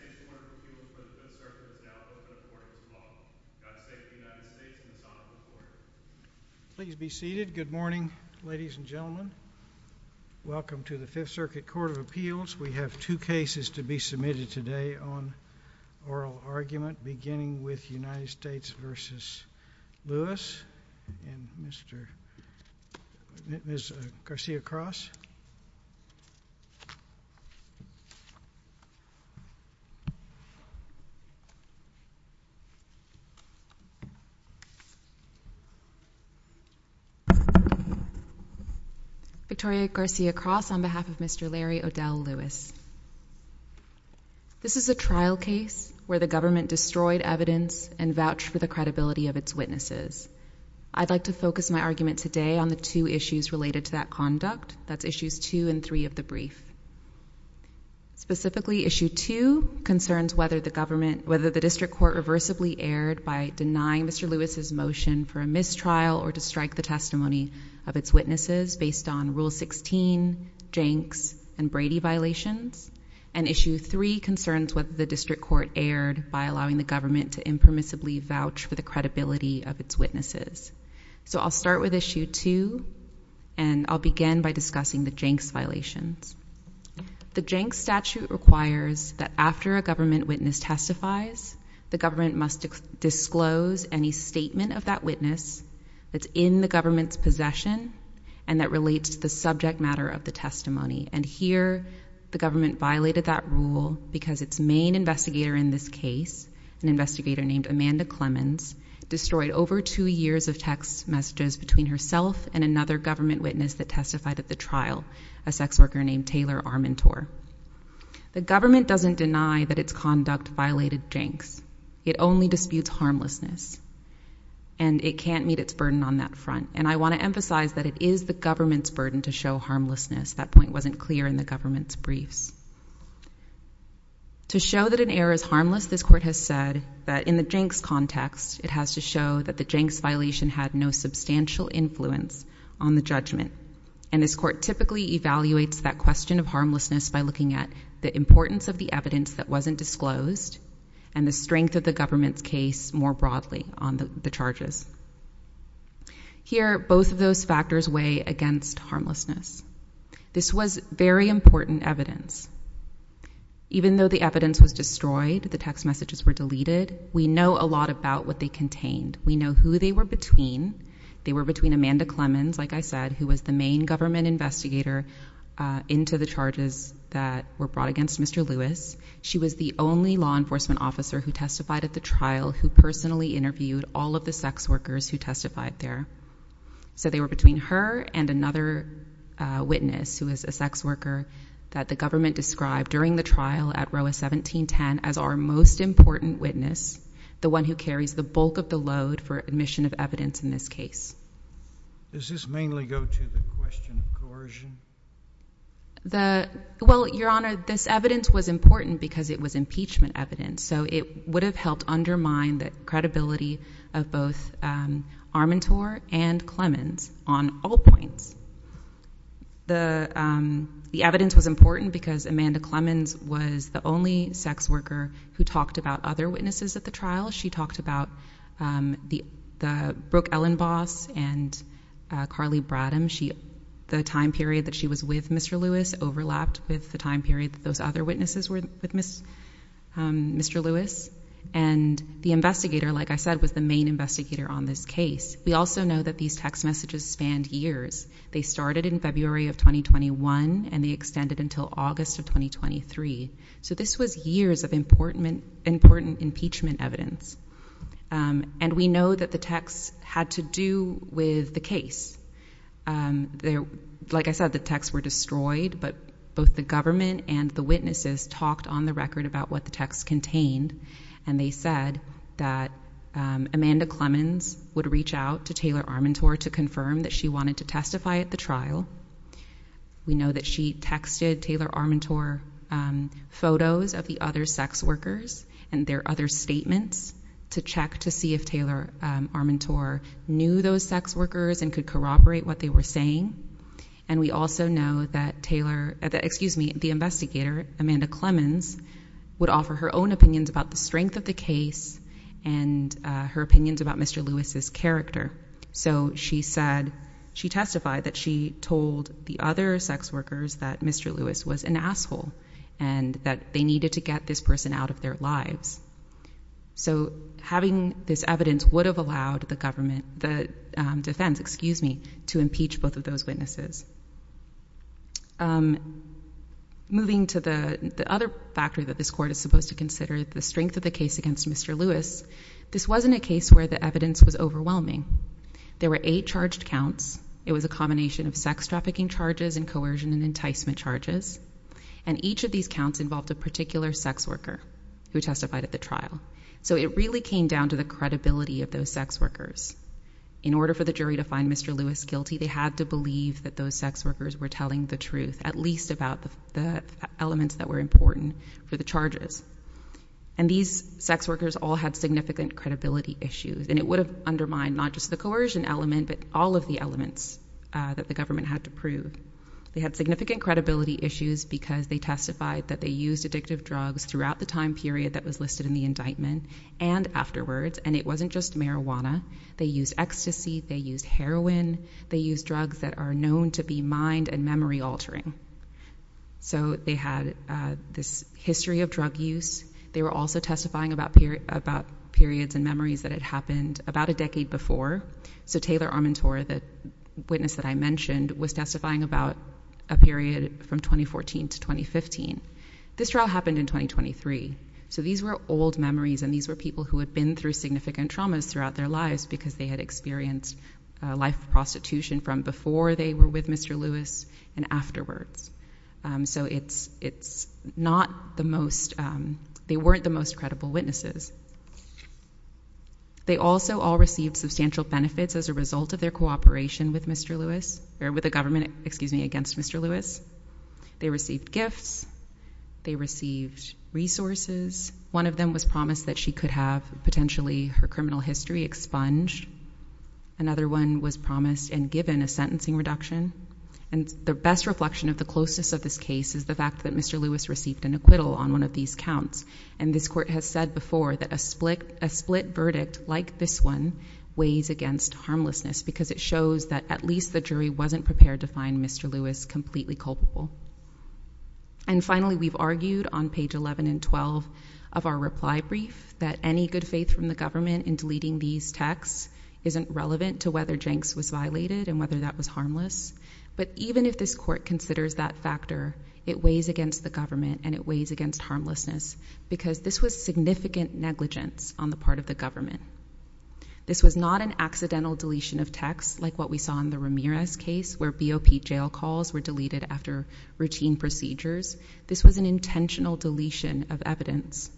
Welcome to the Fifth Circuit Court of Appeals. We have two cases to be submitted today on oral argument beginning with United States v. Lewis and Ms. Garcia-Cross. Victoria Garcia-Cross on behalf of Mr. Larry O'Dell Lewis. This is a trial case where the government destroyed evidence and vouched for the credibility of its witnesses. I'd like to focus my argument today on the two issues related to that conduct, that's issues two and three of the brief. Specifically issue two concerns whether the district court reversibly erred by denying Mr. Lewis' motion for a mistrial or to strike the testimony of its witnesses based on Rule 16, Jenks and Brady violations, and issue three concerns whether the district court erred by allowing the government to impermissibly vouch for the credibility of its witnesses. So I'll start with issue two and I'll begin by discussing the Jenks violations. The Jenks statute requires that after a government witness testifies, the government must disclose any statement of that witness that's in the government's possession and that relates to the subject matter of the testimony, and here the government violated that rule because its main investigator in this case, an investigator named Amanda Clemens, destroyed over two years of text messages between herself and another government witness that testified at the trial, a sex worker named Taylor Armentor. The government doesn't deny that its conduct violated Jenks. It only disputes harmlessness and it can't meet its burden on that front, and I want to emphasize that it is the government's burden to show harmlessness. That point wasn't clear in the government's briefs. To show that an error is harmless, this court has said that in the Jenks context, it has to show that the Jenks violation had no substantial influence on the judgment, and this court typically evaluates that question of harmlessness by looking at the importance of the evidence that wasn't disclosed and the strength of the government's case more broadly on the charges. Here, both of those factors weigh against harmlessness. This was very important evidence. Even though the evidence was destroyed, the text messages were deleted, we know a lot about what they contained. We know who they were between. They were between Amanda Clemens, like I said, who was the main government investigator into the charges that were brought against Mr. Lewis. She was the only law enforcement officer who testified at the trial who personally interviewed all of the sex workers who testified there. So they were between her and another witness who was a sex worker that the government described during the trial at ROWA 1710 as our most important witness, the one who carries the bulk of the load for admission of evidence in this case. Does this mainly go to the question of coercion? Well, Your Honor, this evidence was important because it was impeachment evidence, so it would have helped undermine the credibility of both Armentor and Clemens on all points. The evidence was important because Amanda Clemens was the only sex worker who talked about other witnesses at the trial. She talked about the Brooke Ellenbos and Carly Bradham. The time period that she was with Mr. Lewis overlapped with the time period that those other witnesses were with Mr. Lewis, and the investigator, like I said, was the main investigator on this case. We also know that these text messages spanned years. They started in February of 2021, and they extended until August of 2023. So this was years of important impeachment evidence. And we know that the text had to do with the case. Like I said, the texts were destroyed, but both the government and the witnesses talked on the record about what the texts contained, and they said that Amanda Clemens would reach out to Taylor Armentor to confirm that she wanted to testify at the trial. We know that she texted Taylor Armentor photos of the other sex workers and their other statements to check to see if Taylor Armentor knew those sex workers and could corroborate what they were saying. And we also know that the investigator, Amanda Clemens, would offer her own opinions about the strength of the case and her opinions about Mr. Lewis's character. So she testified that she told the other sex workers that Mr. Lewis was an asshole and that they needed to get this person out of their lives. So having this evidence would have allowed the government, the defense, excuse me, to impeach both of those witnesses. Moving to the other factor that this court is supposed to consider, the strength of the case against Mr. Lewis, this wasn't a case where the evidence was overwhelming. There were eight charged counts. It was a combination of sex trafficking charges and coercion and enticement charges, and each of these counts involved a particular sex worker who testified at the trial. So it really came down to the credibility of those sex workers. In order for the jury to find Mr. Lewis guilty, they had to believe that those sex workers were telling the truth, at least about the elements that were important for the charges. And these sex workers all had significant credibility issues. And it would have undermined not just the coercion element, but all of the elements that the government had to prove. They had significant credibility issues because they testified that they used addictive drugs throughout the time period that was listed in the indictment and afterwards. And it wasn't just marijuana. They used ecstasy. They used heroin. They used drugs that are known to be mind and memory altering. So they had this history of drug use. They were also testifying about periods and memories that had happened about a decade before. So Taylor Armentor, the witness that I mentioned, was testifying about a period from 2014 to 2015. This trial happened in 2023. So these were old memories and these were people who had been through significant traumas throughout their lives because they had experienced life prostitution from before they were with Mr. Lewis and afterwards. So it's not the most, they weren't the most credible witnesses. They also all received substantial benefits as a result of their cooperation with Mr. Lewis or with the government, excuse me, against Mr. Lewis. They received gifts. They received resources. One of them was promised that she could have potentially her criminal history expunged. Another one was promised and given a sentencing reduction. And the best reflection of the closest of this case is the fact that Mr. Lewis received an acquittal on one of these counts. And this court has said before that a split, a split verdict like this one weighs against harmlessness because it shows that at least the jury wasn't prepared to find Mr. Lewis completely culpable. And finally, we've argued on page 11 and 12 of our reply brief that any good faith from the government in deleting these texts isn't relevant to whether Jenks was violated and whether that was harmless. But even if this court considers that factor, it weighs against the government and it weighs against harmlessness because this was significant negligence on the part of the government. This was not an accidental deletion of text like what we saw in the Ramirez case where BOP jail calls were deleted after routine procedures. This was an intentional deletion of evidence.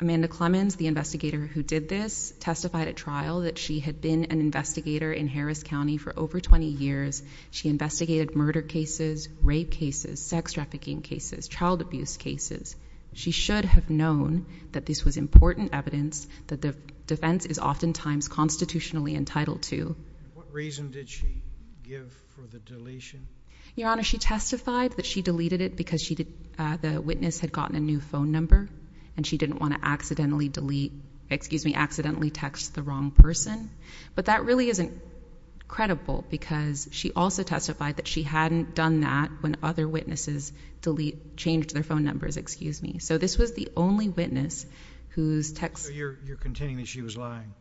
Amanda Clemens, the investigator who did this, testified at trial that she had been an investigator in Harris County for over 20 years. She investigated murder cases, rape cases, sex trafficking cases, child abuse cases. She should have known that this was important evidence that the defense is oftentimes constitutionally entitled to. What reason did she give for the deletion? Your Honor, she testified that she deleted it because she did. The witness had gotten a new phone number and she didn't want to accidentally delete, excuse me, accidentally text the wrong person. But that really isn't credible because she also testified that she hadn't done that when other witnesses delete, changed their phone numbers. Excuse me. So this was the only witness whose text you're containing that she was lying.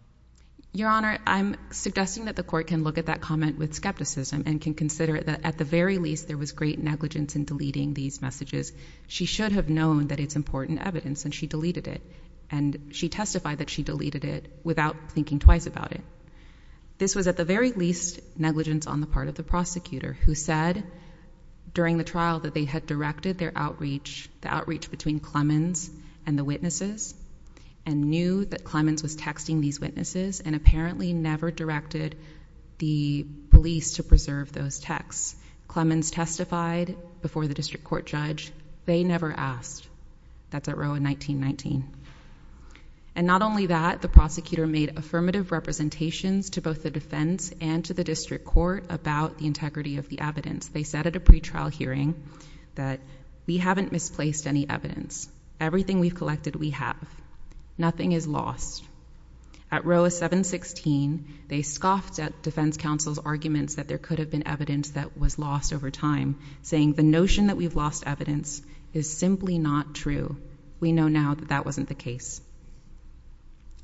Your Honor, I'm suggesting that the court can look at that comment with skepticism and can consider that at the very least, there was great negligence in deleting these messages. She should have known that it's important evidence and she deleted it. And she testified that she deleted it without thinking twice about it. This was at the very least negligence on the part of the prosecutor who said during the trial that they had directed their outreach, the outreach between Clemens and the witnesses, and knew that Clemens was texting these witnesses and apparently never directed the police to preserve those texts. Clemens testified before the district court judge. They never asked. That's at Roe in 1919. And not only that, the prosecutor made affirmative representations to both the defense and to the district court about the integrity of the evidence. They said at a pretrial hearing that we haven't misplaced any evidence. Everything we've collected, we have. Nothing is lost. At Roe 716, they scoffed at defense counsel's arguments that there could have been evidence that was lost over time, saying the notion that we've lost evidence is simply not true. We know now that that wasn't the case.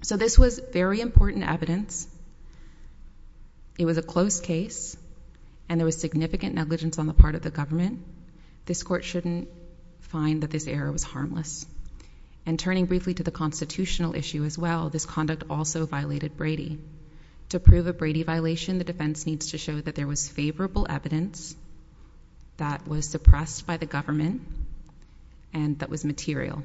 So this was very important evidence. It was a close case and there was significant negligence on the part of the government. This court shouldn't find that this error was harmless. And turning briefly to the constitutional issue as well, this conduct also violated Brady. To prove a Brady violation, the defense needs to show that there was favorable evidence that was suppressed by the government and that was material.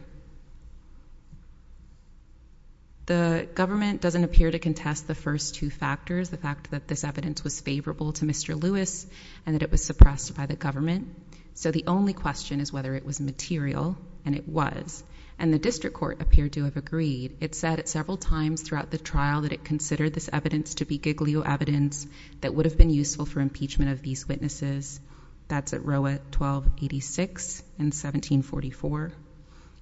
The government doesn't appear to contest the first two factors, the fact that this evidence was favorable to Mr. Lewis and that it was suppressed by the government. So the only question is whether it was material and it was, and the district court appeared to have agreed. It said it several times throughout the trial that it considered this evidence to be that's at row at 1286 and 1744.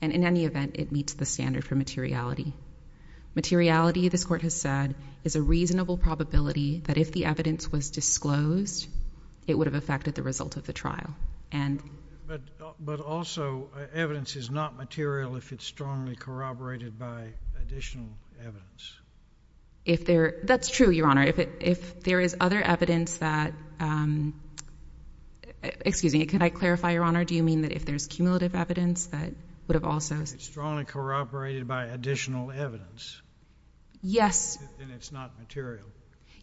And in any event, it meets the standard for materiality. Materiality, this court has said, is a reasonable probability that if the evidence was disclosed, it would have affected the result of the trial. And, but, but also evidence is not material if it's strongly corroborated by additional evidence. If there, that's true, Your Honor. If it, if there is other evidence that, um, excuse me, can I clarify, Your Honor? Do you mean that if there's cumulative evidence that would have also strongly corroborated by additional evidence? Yes. And it's not material.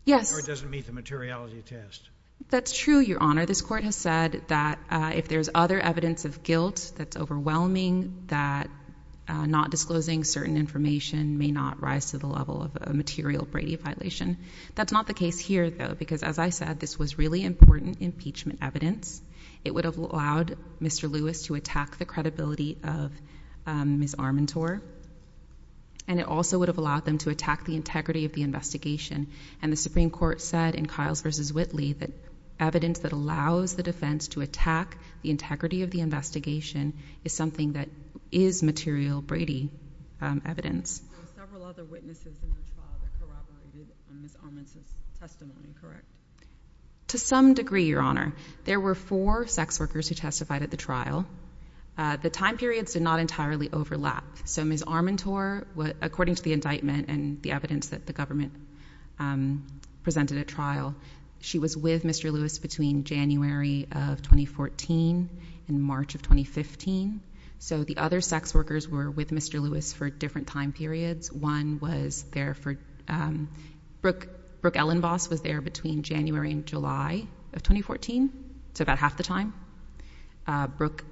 Yes. Or it doesn't meet the materiality test. That's true, Your Honor. This court has said that, uh, if there's other evidence of guilt, that's overwhelming, that, uh, not disclosing certain information may not rise to the level of a material Brady violation. That's not the case here though, because as I said, this was really important impeachment evidence. It would have allowed Mr. Lewis to attack the credibility of, um, Ms. Armentor, and it also would have allowed them to attack the integrity of the investigation. And the Supreme Court said in Kyle's versus Whitley, that evidence that allows the defense to attack the integrity of the investigation is something that is material Brady, um, evidence. Several other witnesses in this trial that corroborated Ms. Armentor's testimony, correct? To some degree, Your Honor, there were four sex workers who testified at the trial. Uh, the time periods did not entirely overlap. So Ms. Armentor, according to the indictment and the evidence that the government, um, presented at trial, she was with Mr. Lewis between January of 2014 and March of 2015. So the other sex workers were with Mr. time periods. One was there for, um, Brooke, Brooke Ellen boss was there between January and July of 2014 to about half the time. Uh, Brooke,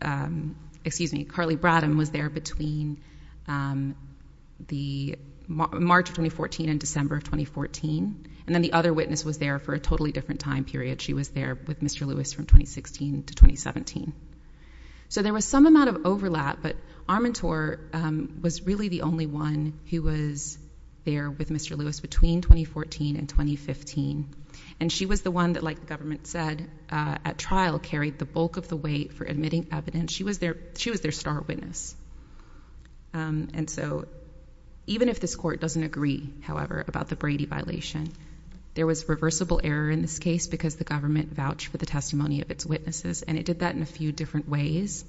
um, excuse me, Carly Bradham was there between, um, the March of 2014 and December of 2014. And then the other witness was there for a totally different time period. She was there with Mr. Lewis from 2016 to 2017. So there was some amount of overlap, but Armentor, um, was really the only one who was there with Mr. Lewis between 2014 and 2015. And she was the one that, like the government said, uh, at trial carried the bulk of the weight for admitting evidence. She was there, she was their star witness. Um, and so even if this court doesn't agree, however, about the Brady violation, there was reversible error in this case because the government vouched for the testimony of its witnesses. And it did that in a few different ways.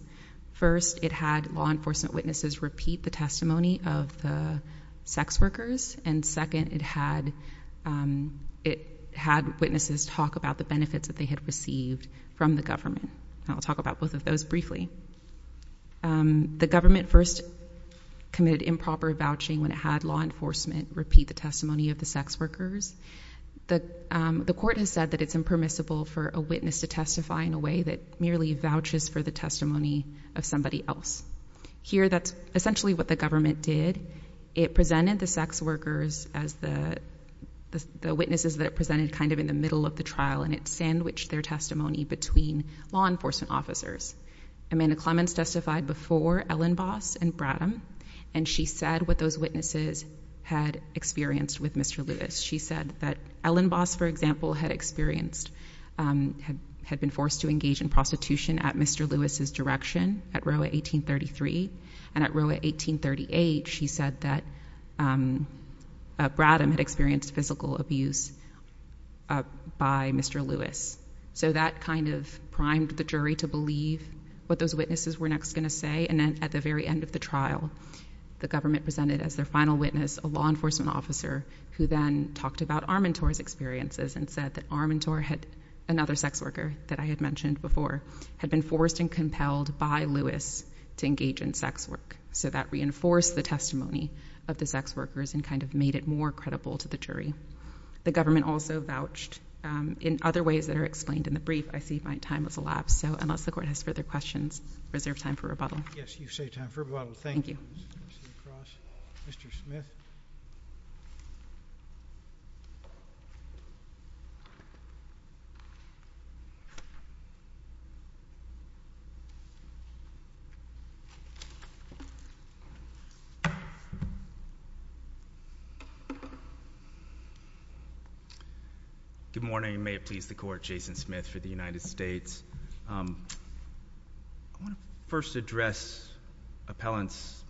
First, it had law enforcement witnesses repeat the testimony of the sex workers. And second, it had, um, it had witnesses talk about the benefits that they had received from the government. I'll talk about both of those briefly. Um, the government first committed improper vouching when it had law enforcement repeat the testimony of the sex workers. The, um, the court has said that it's impermissible for a witness to testify in a way that merely vouches for the testimony of somebody else here. That's essentially what the government did. It presented the sex workers as the, the, the witnesses that it presented kind of in the middle of the trial. And it's sandwiched their testimony between law enforcement officers. Amanda Clements testified before Ellen Boss and Bradham. And she said what those witnesses had experienced with Mr. Lewis. She said that Ellen Boss, for example, had experienced, um, had, had been forced to engage in prostitution at Mr. Lewis's direction at Roa 1833. And at Roa 1838, she said that, um, uh, Bradham had experienced physical abuse, uh, by Mr. Lewis. So that kind of primed the jury to believe what those witnesses were next going to say. And then at the very end of the trial, the government presented as their final witness, a law enforcement officer who then talked about our mentors experiences and said that our mentor had another sex worker that I had mentioned before had been forced and compelled by Lewis to engage in sex work. So that reinforced the testimony of the sex workers and kind of made it more credible to the jury. The government also vouched, um, in other ways that are explained in the brief. I see my time has elapsed. So unless the court has further questions, reserve time for rebuttal. Yes. You say time for a while. Thank you. Mr. Smith. Good morning. May it please the court. Jason Smith for the United States. Um, I want to first address appellant's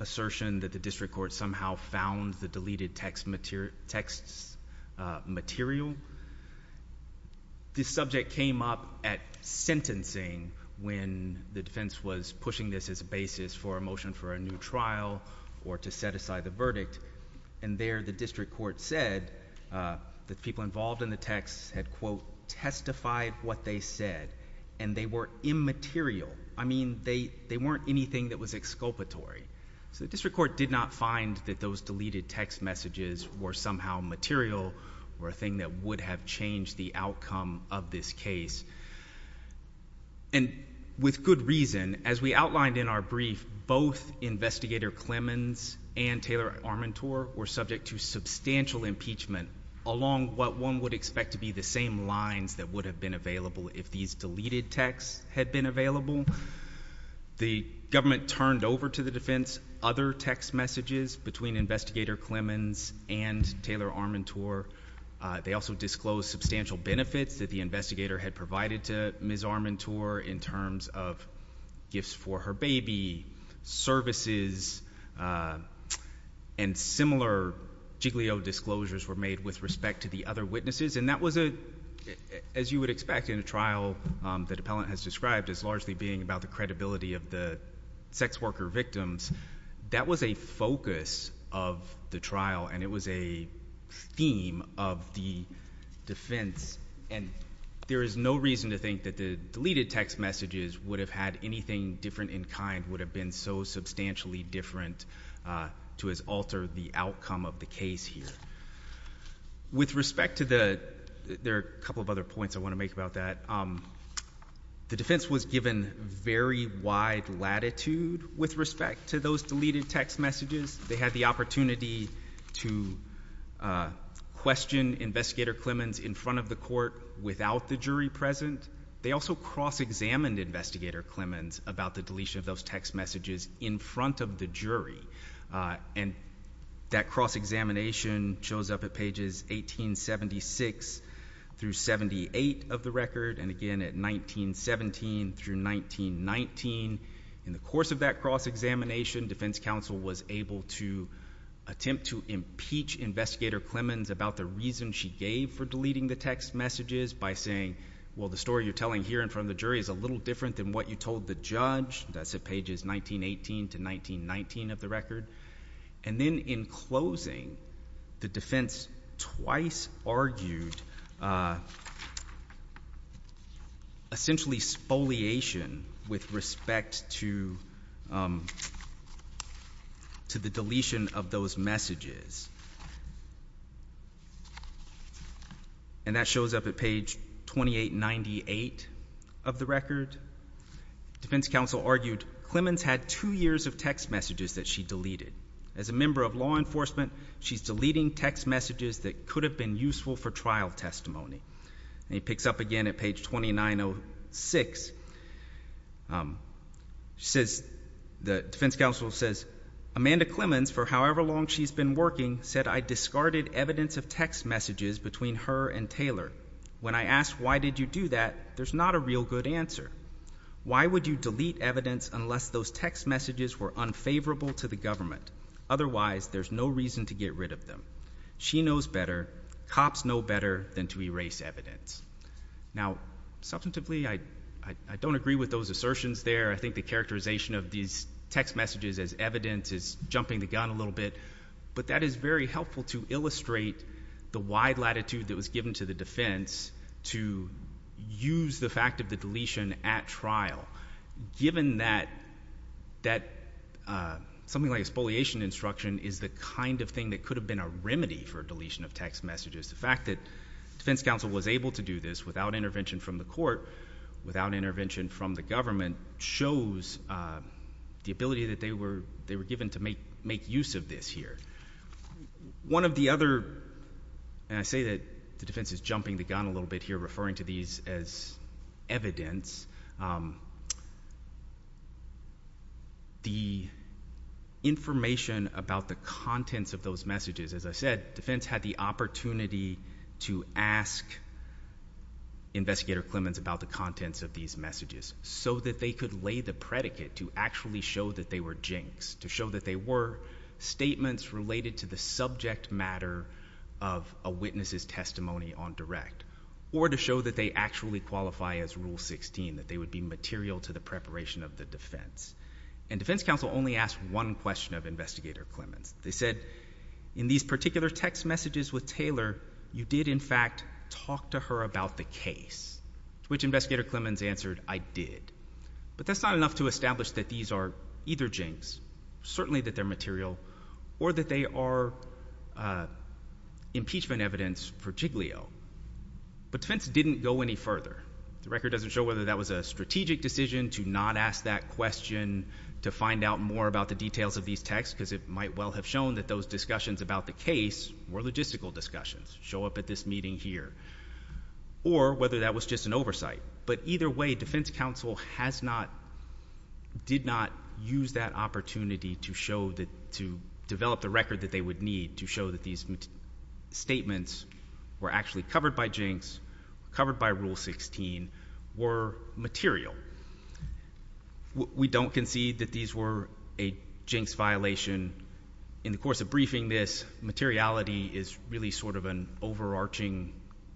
assertion that the district court somehow found the deleted text material texts, uh, material. This subject came up at sentencing when the defense was pushing this as a basis for a motion for a new trial or to set aside the verdict and there the district court said, uh, the people involved in the texts had quote testified what they said and they were immaterial. I mean, they, they weren't anything that was exculpatory. So the district court did not find that those deleted text messages were somehow material or a thing that would have changed the outcome of this case. And with good reason, as we outlined in our brief, both investigator Clemens and Taylor Armentour were subject to substantial impeachment along what one would expect to be the same lines that would have been available if these deleted texts had been available. The government turned over to the defense, other text messages between investigator Clemens and Taylor Armentour. Uh, they also disclosed substantial benefits that the investigator had provided to Ms. Armentour in terms of gifts for her baby services, uh, and similar Jiglio disclosures were made with respect to the other witnesses. And that was a, as you would expect in a trial, um, that appellant has task for it with respect to theər accountability of the sex worker, victims, that was a focus of the trial. And it was a theme of the defense. And there is no reason to think that the deleted text messages would have had anything different in kind would have been so substantially different, uh, to as altered the outcome of the case. With respect to the, there are a couple of other points I want to make about that. Um, the defense was given very wide latitude with respect to those deleted text messages, they had the opportunity to, uh, question investigator Clemens in front of the court without the jury present, they also cross examined investigator Clemens about the deletion of those text messages in front of the jury, uh, and that cross examination shows up at pages 1876 through 78 of the record, and again at 1917 through 1919 in the course of that cross examination, defense counsel was able to attempt to impeach investigator Clemens about the reason she gave for deleting the text messages by saying, well, the story you're telling here in front of the jury is a little different than what you told the judge, that's at pages 1918 to 1919 of the record. And then in closing the defense twice argued, uh, essentially spoliation with respect to, um, to the deletion of those messages and that shows up at page 2898 of the record, defense counsel argued Clemens had two years of text messages that she deleted as a member of law enforcement, she's deleting text messages that could have been useful for trial testimony and he picks up again at page 2906, um, she says, the defense counsel says, Amanda Clemens, for however long she's been working, said, I discarded evidence of text messages between her and Taylor. When I asked, why did you do that? There's not a real good answer. Why would you delete evidence unless those text messages were unfavorable to the government? Otherwise, there's no reason to get rid of them. She knows better cops know better than to erase evidence. Now, substantively, I, I don't agree with those assertions there. I think the characterization of these text messages as evidence is jumping the gun a little bit, but that is very helpful to illustrate the wide latitude that was given to the defense to use the fact of the deletion at trial, given that, that, uh, something like a spoliation instruction is the kind of thing that could have been a remedy for deletion of text messages. The fact that defense counsel was able to do this without intervention from the court, without intervention from the government shows, uh, the ability that they were, they were given to make, make use of this here. One of the other, and I say that the defense is jumping the gun a little bit here, referring to these as evidence, um, the information about the contents of those messages. As I said, defense had the opportunity to ask investigator Clemens about the contents of these messages so that they could lay the predicate to actually show that they were jinx, to show that they were statements related to the subject matter of a witness's testimony on direct, or to show that they actually qualify as rule 16, that they would be material to the preparation of the defense and defense counsel only asked one question of investigator Clemens. They said in these particular text messages with Taylor, you did in fact talk to her about the case, which investigator Clemens answered I did, but that's not enough to establish that these are either jinx, certainly that they're material or that they are, uh, impeachment evidence for Jiglio, but defense didn't go any further. The record doesn't show whether that was a strategic decision to not ask that question, to find out more about the details of these texts, because it might well have shown that those discussions about the case were logistical discussions show up at this meeting here, or whether that was just an oversight. But either way, defense counsel has not, did not use that opportunity to show that, to develop the record that they would need to show that these statements were actually covered by jinx, covered by rule 16 were material. We don't concede that these were a jinx violation in the course of briefing. This materiality is really sort of an overarching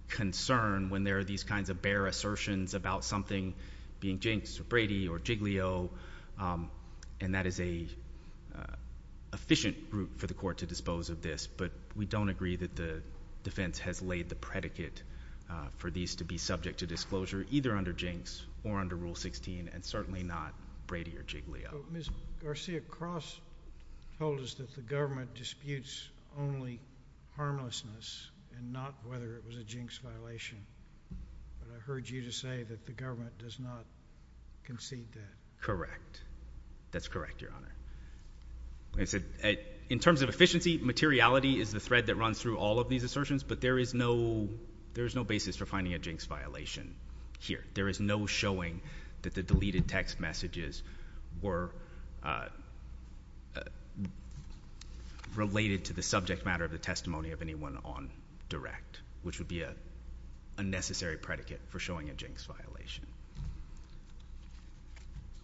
concern when there are these kinds of bare assertions about something being jinx or Brady or Jiglio. Um, and that is a, uh, efficient route for the court to dispose of this, but we don't agree that the defense has laid the predicate, uh, for these to be subject to disclosure, either under jinx or under rule 16 and certainly not Brady or Jiglio. Ms. Garcia, Cross told us that the government disputes only harmlessness and not whether it was a jinx violation. But I heard you just say that the government does not concede that. Correct. That's correct. Your honor. I said, in terms of efficiency, materiality is the thread that runs through all of these assertions, but there is no, there is no basis for finding a jinx violation here. There is no showing that the deleted text messages were, uh, uh, related to the subject matter of the testimony of anyone on direct, which would be a. Unnecessary predicate for showing a jinx violation.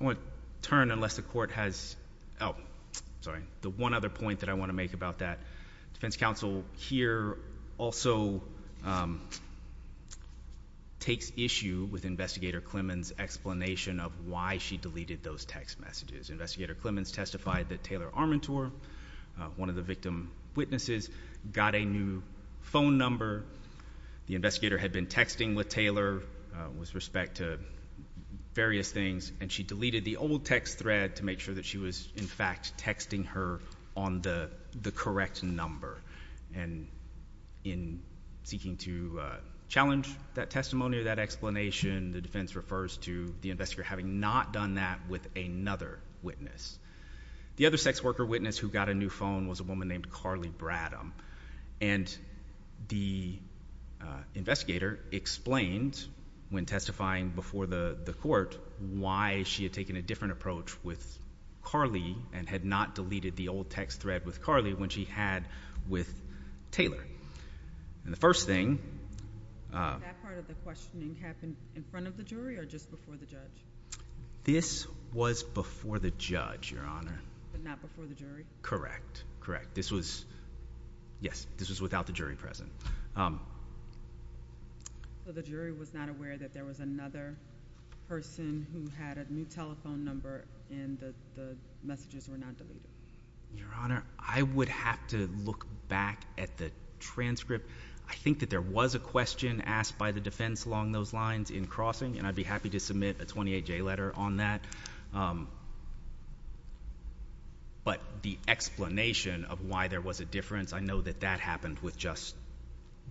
I want to turn, unless the court has, Oh, sorry. The one other point that I want to make about that defense counsel here also, um, takes issue with investigator Clemens explanation of why she deleted those text messages. Investigator Clemens testified that Taylor Armentour, uh, one of the victim witnesses got a new phone number. The investigator had been texting with Taylor, uh, with respect to various things, and she deleted the old text thread to make sure that she was in fact texting her on the correct number. And in seeking to, uh, challenge that testimony or that explanation, the defense refers to the investigator having not done that with another witness. The other sex worker witness who got a new phone was a woman named Carly Bradham. And the, uh, investigator explained when testifying before the court, why she had taken a different approach with Carly and had not deleted the old text thread with Carly when she had with Taylor. And the first thing, uh. That part of the questioning happened in front of the jury or just before the judge? This was before the judge, Your Honor, but not before the jury. Correct. This was, yes, this was without the jury present. Um, so the jury was not aware that there was another person who had a new telephone number and the messages were not deleted, Your Honor. I would have to look back at the transcript. I think that there was a question asked by the defense along those lines in and I'd be happy to submit a 28-J letter on that. Um, but the explanation of why there was a difference, I know that that happened with just,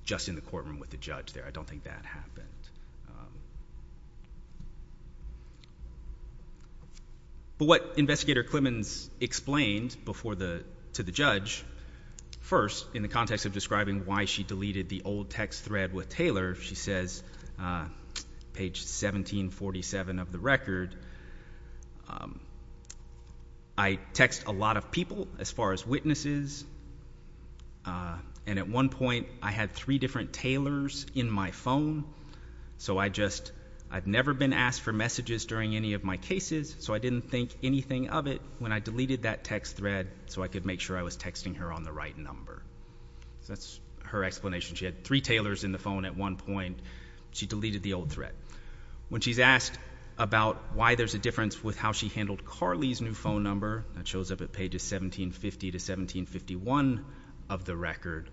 just in the courtroom with the judge there, I don't think that happened. Um, but what investigator Clemons explained before the, to the judge first in the context of describing why she deleted the old text thread with Taylor. She says, uh, page 1747 of the record. Um, I text a lot of people as far as witnesses. Uh, and at one point I had three different tailors in my phone, so I just, I've never been asked for messages during any of my cases, so I didn't think anything of it when I deleted that text thread so I could make sure I was texting her on the right number. So that's her explanation. She had three tailors in the phone at one point. She deleted the old threat when she's asked about why there's a difference with how she handled Carly's new phone number that shows up at pages 1750 to 1751 of the record.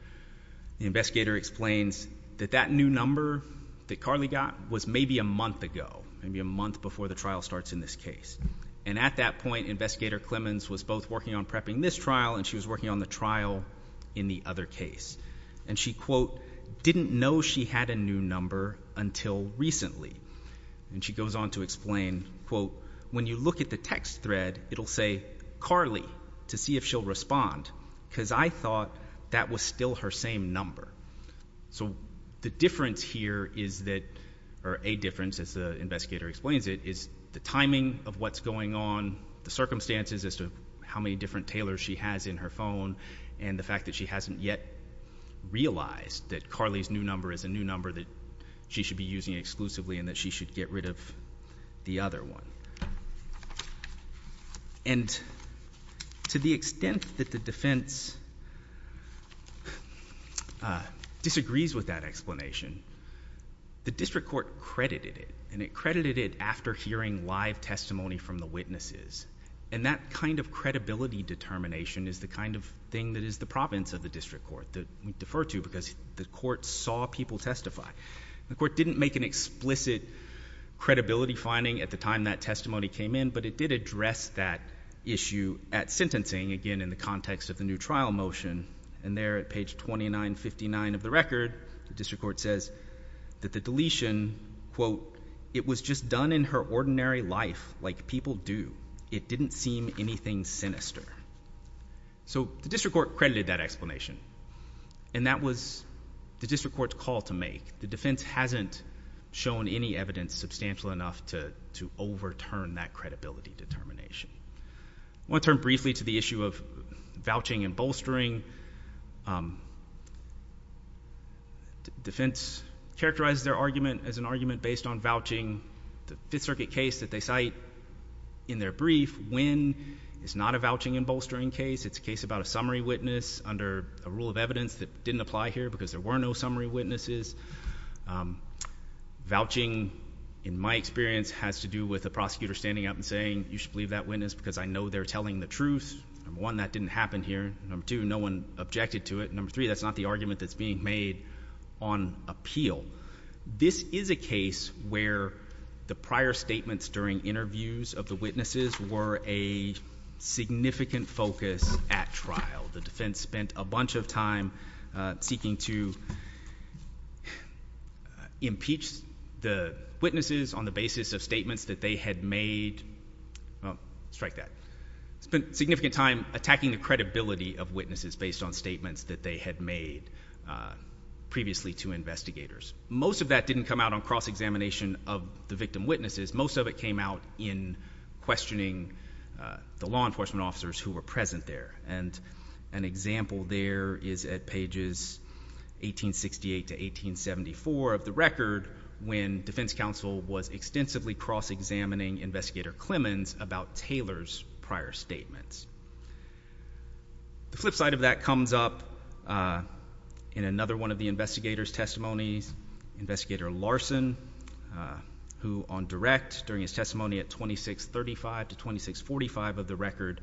The investigator explains that that new number that Carly got was maybe a month ago, maybe a month before the trial starts in this case. And at that point, investigator Clemons was both working on prepping this trial and she was working on the trial in the other case. And she quote, didn't know she had a new number until recently. And she goes on to explain, quote, when you look at the text thread, it'll say Carly to see if she'll respond. Cause I thought that was still her same number. So the difference here is that, or a difference as the investigator explains it is the timing of what's going on, the circumstances as to how many different tailors she has in her phone and the fact that she hasn't yet realized that Carly's new number is a new number that she should be using exclusively and that she should get rid of the other one. And to the extent that the defense disagrees with that explanation, the district court credited it and it credited it after hearing live testimony from the witnesses. And that kind of credibility determination is the kind of thing that is the province of the district court that we defer to because the court saw people testify. The court didn't make an explicit credibility finding at the time that testimony came in, but it did address that issue at sentencing again, in the context of the new trial motion. And there at page 2959 of the record, the district court says that the deletion quote, it was just done in her ordinary life. Like people do. It didn't seem anything sinister. So the district court credited that explanation and that was the district court's call to make the defense hasn't shown any evidence substantial enough to, to overturn that credibility determination. I want to turn briefly to the issue of vouching and bolstering. Um, defense characterized their argument as an argument based on vouching. The fifth circuit case that they cite in their brief, when it's not a vouching and bolstering case, it's a case about a summary witness under a rule of evidence that didn't apply here because there were no summary witnesses. Um, vouching in my experience has to do with a prosecutor standing up and saying, you should believe that witness because I know they're telling the truth. Number one, that didn't happen here. Number two, no one objected to it. Number three, that's not the argument that's being made on appeal. This is a case where the prior statements during interviews of the witnesses were a significant focus at trial. The defense spent a bunch of time, uh, seeking to impeach the witnesses on the basis of statements that they had made. Well, strike that. Spent significant time attacking the credibility of witnesses based on statements that they had made, uh, previously to investigators. Most of that didn't come out on cross examination of the victim witnesses. Most of it came out in questioning, uh, the law enforcement officers who were present there. And an example there is at pages 1868 to 1874 of the record when defense counsel was extensively cross examining investigator Clemens about Taylor's prior statements. The flip side of that comes up, uh, in another one of the investigators testimonies, investigator Larson, uh, who on direct during his testimony at 2635 to 2645 of the record,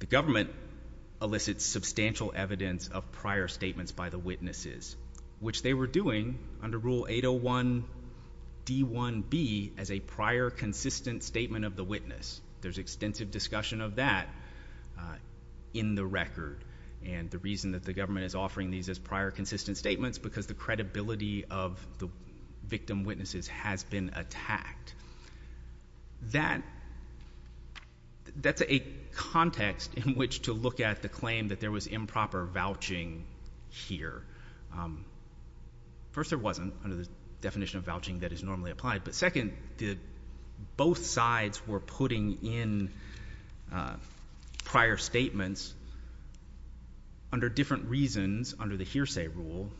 the government elicits substantial evidence of prior statements by the witnesses, which they were under rule 801 D one B as a prior consistent statement of the witness. There's extensive discussion of that, uh, in the record. And the reason that the government is offering these as prior consistent statements, because the credibility of the victim witnesses has been attacked. That that's a context in which to look at the claim that there was improper vouching here. Um, first there wasn't under the definition of vouching that is normally applied, but second did both sides were putting in, uh, prior statements under different reasons under the hearsay rule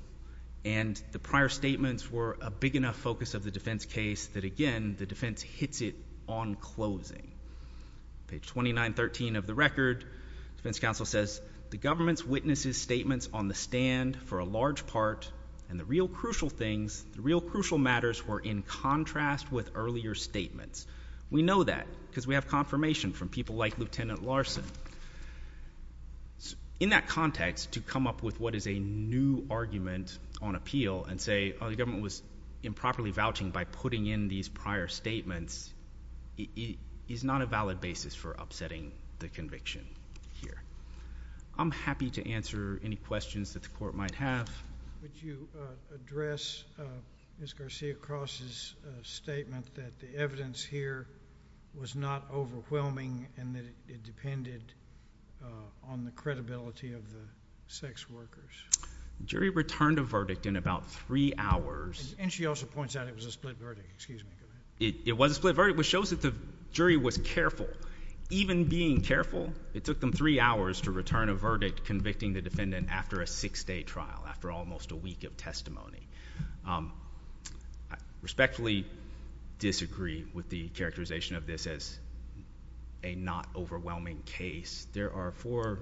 and the prior statements were a big enough focus of the defense case that again, the defense hits it on closing page 2913 of the record defense counsel says the government's witnesses statements on the stand for a large part and the real crucial things, the real crucial matters were in contrast with earlier statements. We know that because we have confirmation from people like Lieutenant Larson in that context to come up with what is a new argument on appeal and say, Oh, the government was improperly vouching by putting in these prior statements is not a valid basis for upsetting the conviction here. I'm happy to answer any questions that the court might have. Would you address Ms. Garcia crosses statement that the evidence here was not overwhelming and that it depended on the credibility of the sex workers jury returned a verdict in about three hours. And she also points out it was a split verdict, excuse me, it was a split verdict, which shows that the jury was careful even being careful. It took them three hours to return a verdict, convicting the defendant after a six day trial, after almost a week of testimony, respectfully disagree with the characterization of this as a not overwhelming case. There are four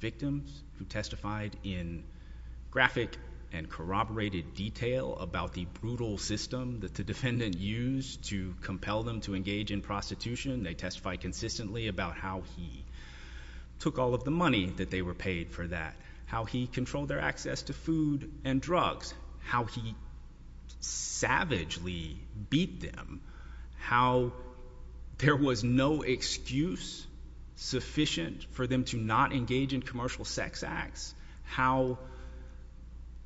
victims who testified in graphic and corroborated detail about the brutal system that the defendant used to compel them to engage in prostitution. They testify consistently about how he took all of the money that they were paid for that, how he controlled their access to food and drugs, how he savagely beat them, how there was no excuse sufficient for them to not engage in commercial sex acts, how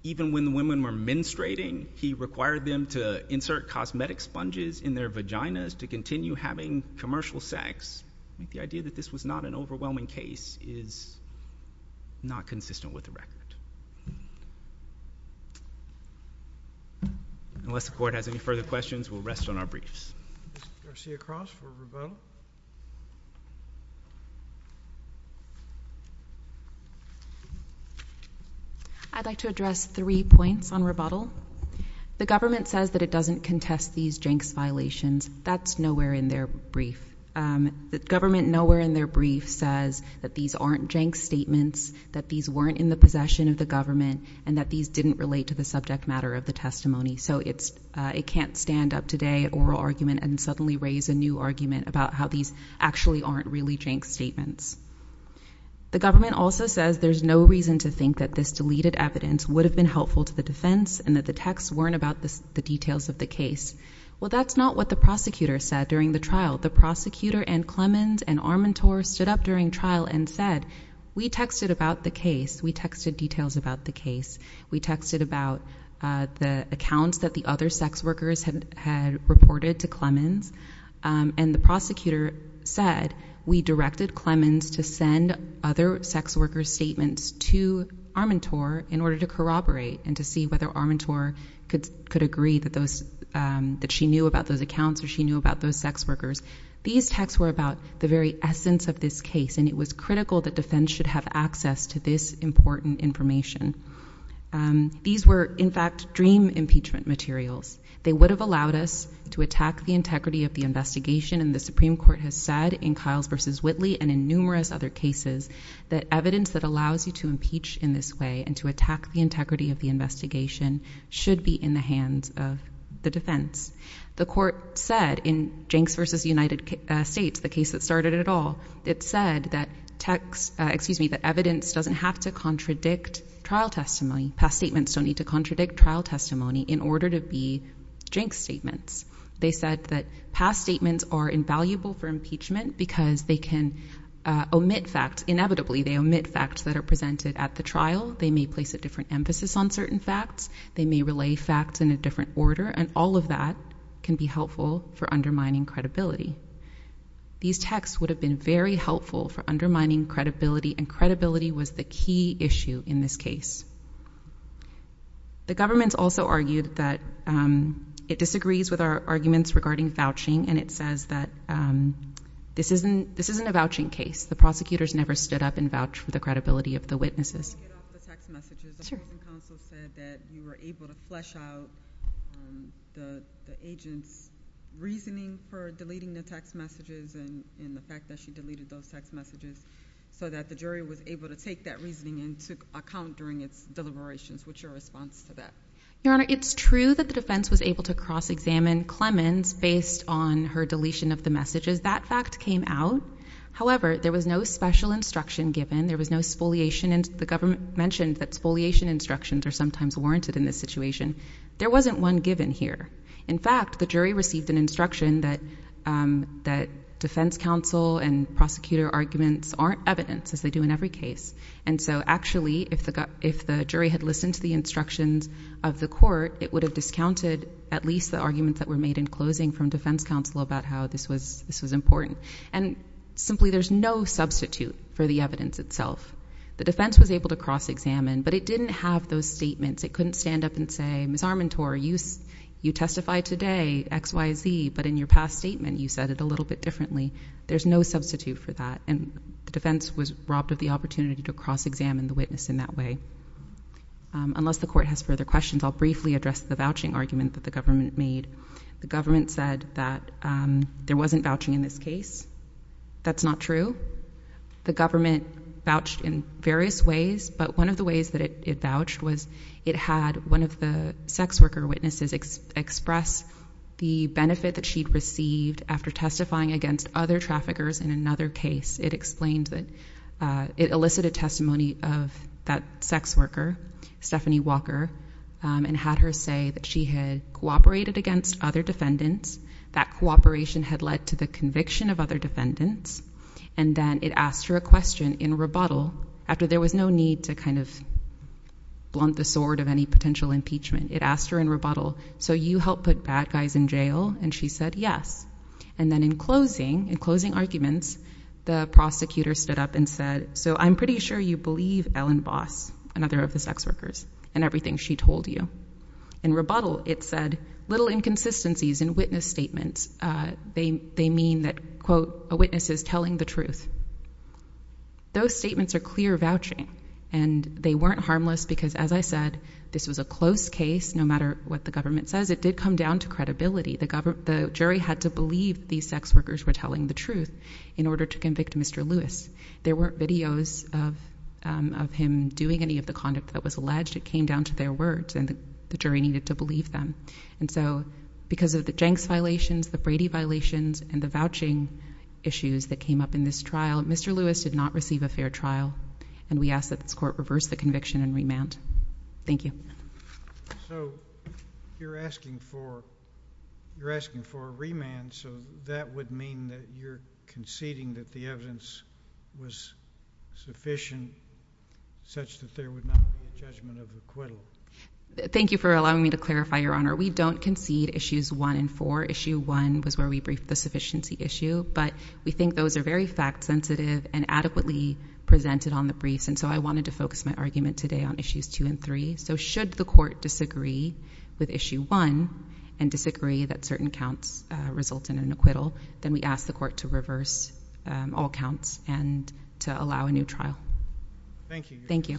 even when the women were menstruating, he required them to insert cosmetic sponges in their vaginas to continue having commercial sex. The idea that this was not an overwhelming case is not consistent with the record. Unless the court has any further questions, we'll rest on our briefs. Garcia-Cross for rebuttal. I'd like to address three points on rebuttal. The government says that it doesn't contest these jenks violations. That's nowhere in their brief. Um, the government nowhere in their brief says that these aren't jenks statements, that these weren't in the possession of the government and that these didn't relate to the subject matter of the testimony. So it's, uh, it can't stand up today or argument and suddenly raise a new argument about how these actually aren't really jenks statements. The government also says there's no reason to think that this deleted evidence would have been helpful to the defense and that the texts weren't about the details of the case. Well, that's not what the prosecutor said during the trial, the prosecutor and Clemens and Armantor stood up during trial and said, we texted about the case. We texted details about the case. We texted about, uh, the accounts that the other sex workers had reported to Clemens. Um, and the prosecutor said, we directed Clemens to send other sex workers statements to Armantor in order to corroborate and to see whether Armantor could, could agree that those, um, that she knew about those accounts or she knew about those sex workers. These texts were about the very essence of this case. And it was critical that defense should have access to this important information. Um, these were in fact, dream impeachment materials. They would have allowed us to attack the integrity of the investigation. And the Supreme court has said in Kyle's versus Whitley and in numerous other that evidence that allows you to impeach in this way and to attack the integrity of the investigation should be in the hands of the defense. The court said in Jenks versus United States, the case that started at all, it said that texts, uh, excuse me, that evidence doesn't have to contradict trial testimony. Past statements don't need to contradict trial testimony in order to be drink statements. They said that past statements are invaluable for impeachment because they can, uh, omit facts. Inevitably they omit facts that are presented at the trial. They may place a different emphasis on certain facts. They may relay facts in a different order. And all of that can be helpful for undermining credibility. These texts would have been very helpful for undermining credibility and credibility was the key issue in this case. The government's also argued that, um, it disagrees with our arguments regarding vouching. And it says that, um, this isn't, this isn't a vouching case. The prosecutors never stood up and vouch for the credibility of the witnesses. And counsel said that you were able to flesh out the agent's reasoning for deleting the text messages and the fact that she deleted those text messages so that the jury was able to take that reasoning into account during its deliberations. What's your response to that? Your honor, it's true that the defense was able to cross examine Clemens based on her deletion of the messages. That fact came out. However, there was no special instruction given. There was no spoliation and the government mentioned that spoliation instructions are sometimes warranted in this situation. There wasn't one given here. In fact, the jury received an instruction that, um, that defense counsel and prosecutor arguments aren't evidence as they do in every case. And so actually if the, if the jury had listened to the instructions of the court, it would have discounted at least the arguments that were made in closing from defense counsel about how this was, this was important. And simply there's no substitute for the evidence itself. The defense was able to cross examine, but it didn't have those statements. It couldn't stand up and say, Ms. Armentor, you, you testify today X, Y, Z, but in your past statement, you said it a little bit differently. There's no substitute for that. And the defense was robbed of the opportunity to cross examine the witness in that way. Um, unless the court has further questions, I'll briefly address the vouching argument that the government made. The government said that, um, there wasn't vouching in this case. That's not true. The government vouched in various ways, but one of the ways that it vouched was it had one of the sex worker witnesses express the benefit that she'd received after testifying against other traffickers in another case. It explained that, uh, it elicited testimony of that sex worker, Stephanie Walker, um, and had her say that she had cooperated against other defendants. That cooperation had led to the conviction of other defendants. And then it asked her a question in rebuttal after there was no need to kind of blunt the sword of any potential impeachment, it asked her in rebuttal. So you help put bad guys in jail. And she said, yes. And then in closing, in closing arguments, the prosecutor stood up and said, so I'm pretty sure you believe Ellen Voss, another of the sex workers. And everything she told you in rebuttal, it said little inconsistencies in witness statements, uh, they, they mean that quote, a witness is telling the truth. Those statements are clear vouching and they weren't harmless because as I said, this was a close case, no matter what the government says, it did come down to credibility, the government, the jury had to believe these sex workers were telling the truth in order to convict Mr. Lewis, there weren't videos of, um, of him doing any of the conduct that was alleged, it came down to their words and the jury needed to believe them. And so because of the Jenks violations, the Brady violations and the vouching issues that came up in this trial, Mr. Lewis did not receive a fair trial. And we asked that this court reverse the conviction and remand. Thank you. So you're asking for, you're asking for a remand. So that would mean that you're conceding that the evidence was sufficient such that there would not be a judgment of acquittal. Thank you for allowing me to clarify your honor. We don't concede issues one and four issue one was where we briefed the sufficiency issue, but we think those are very fact sensitive and adequately presented on the briefs. And so I wanted to focus my argument today on issues two and three. So should the court disagree with issue one and disagree that certain counts result in an acquittal, then we asked the court to reverse, um, all counts and to allow a new trial. Thank you. Thank you. Moving further, do you have any other comments or thoughts on the submission on NT117, table 122? Remaining case for today, uh, Lyskano. Versus Gale.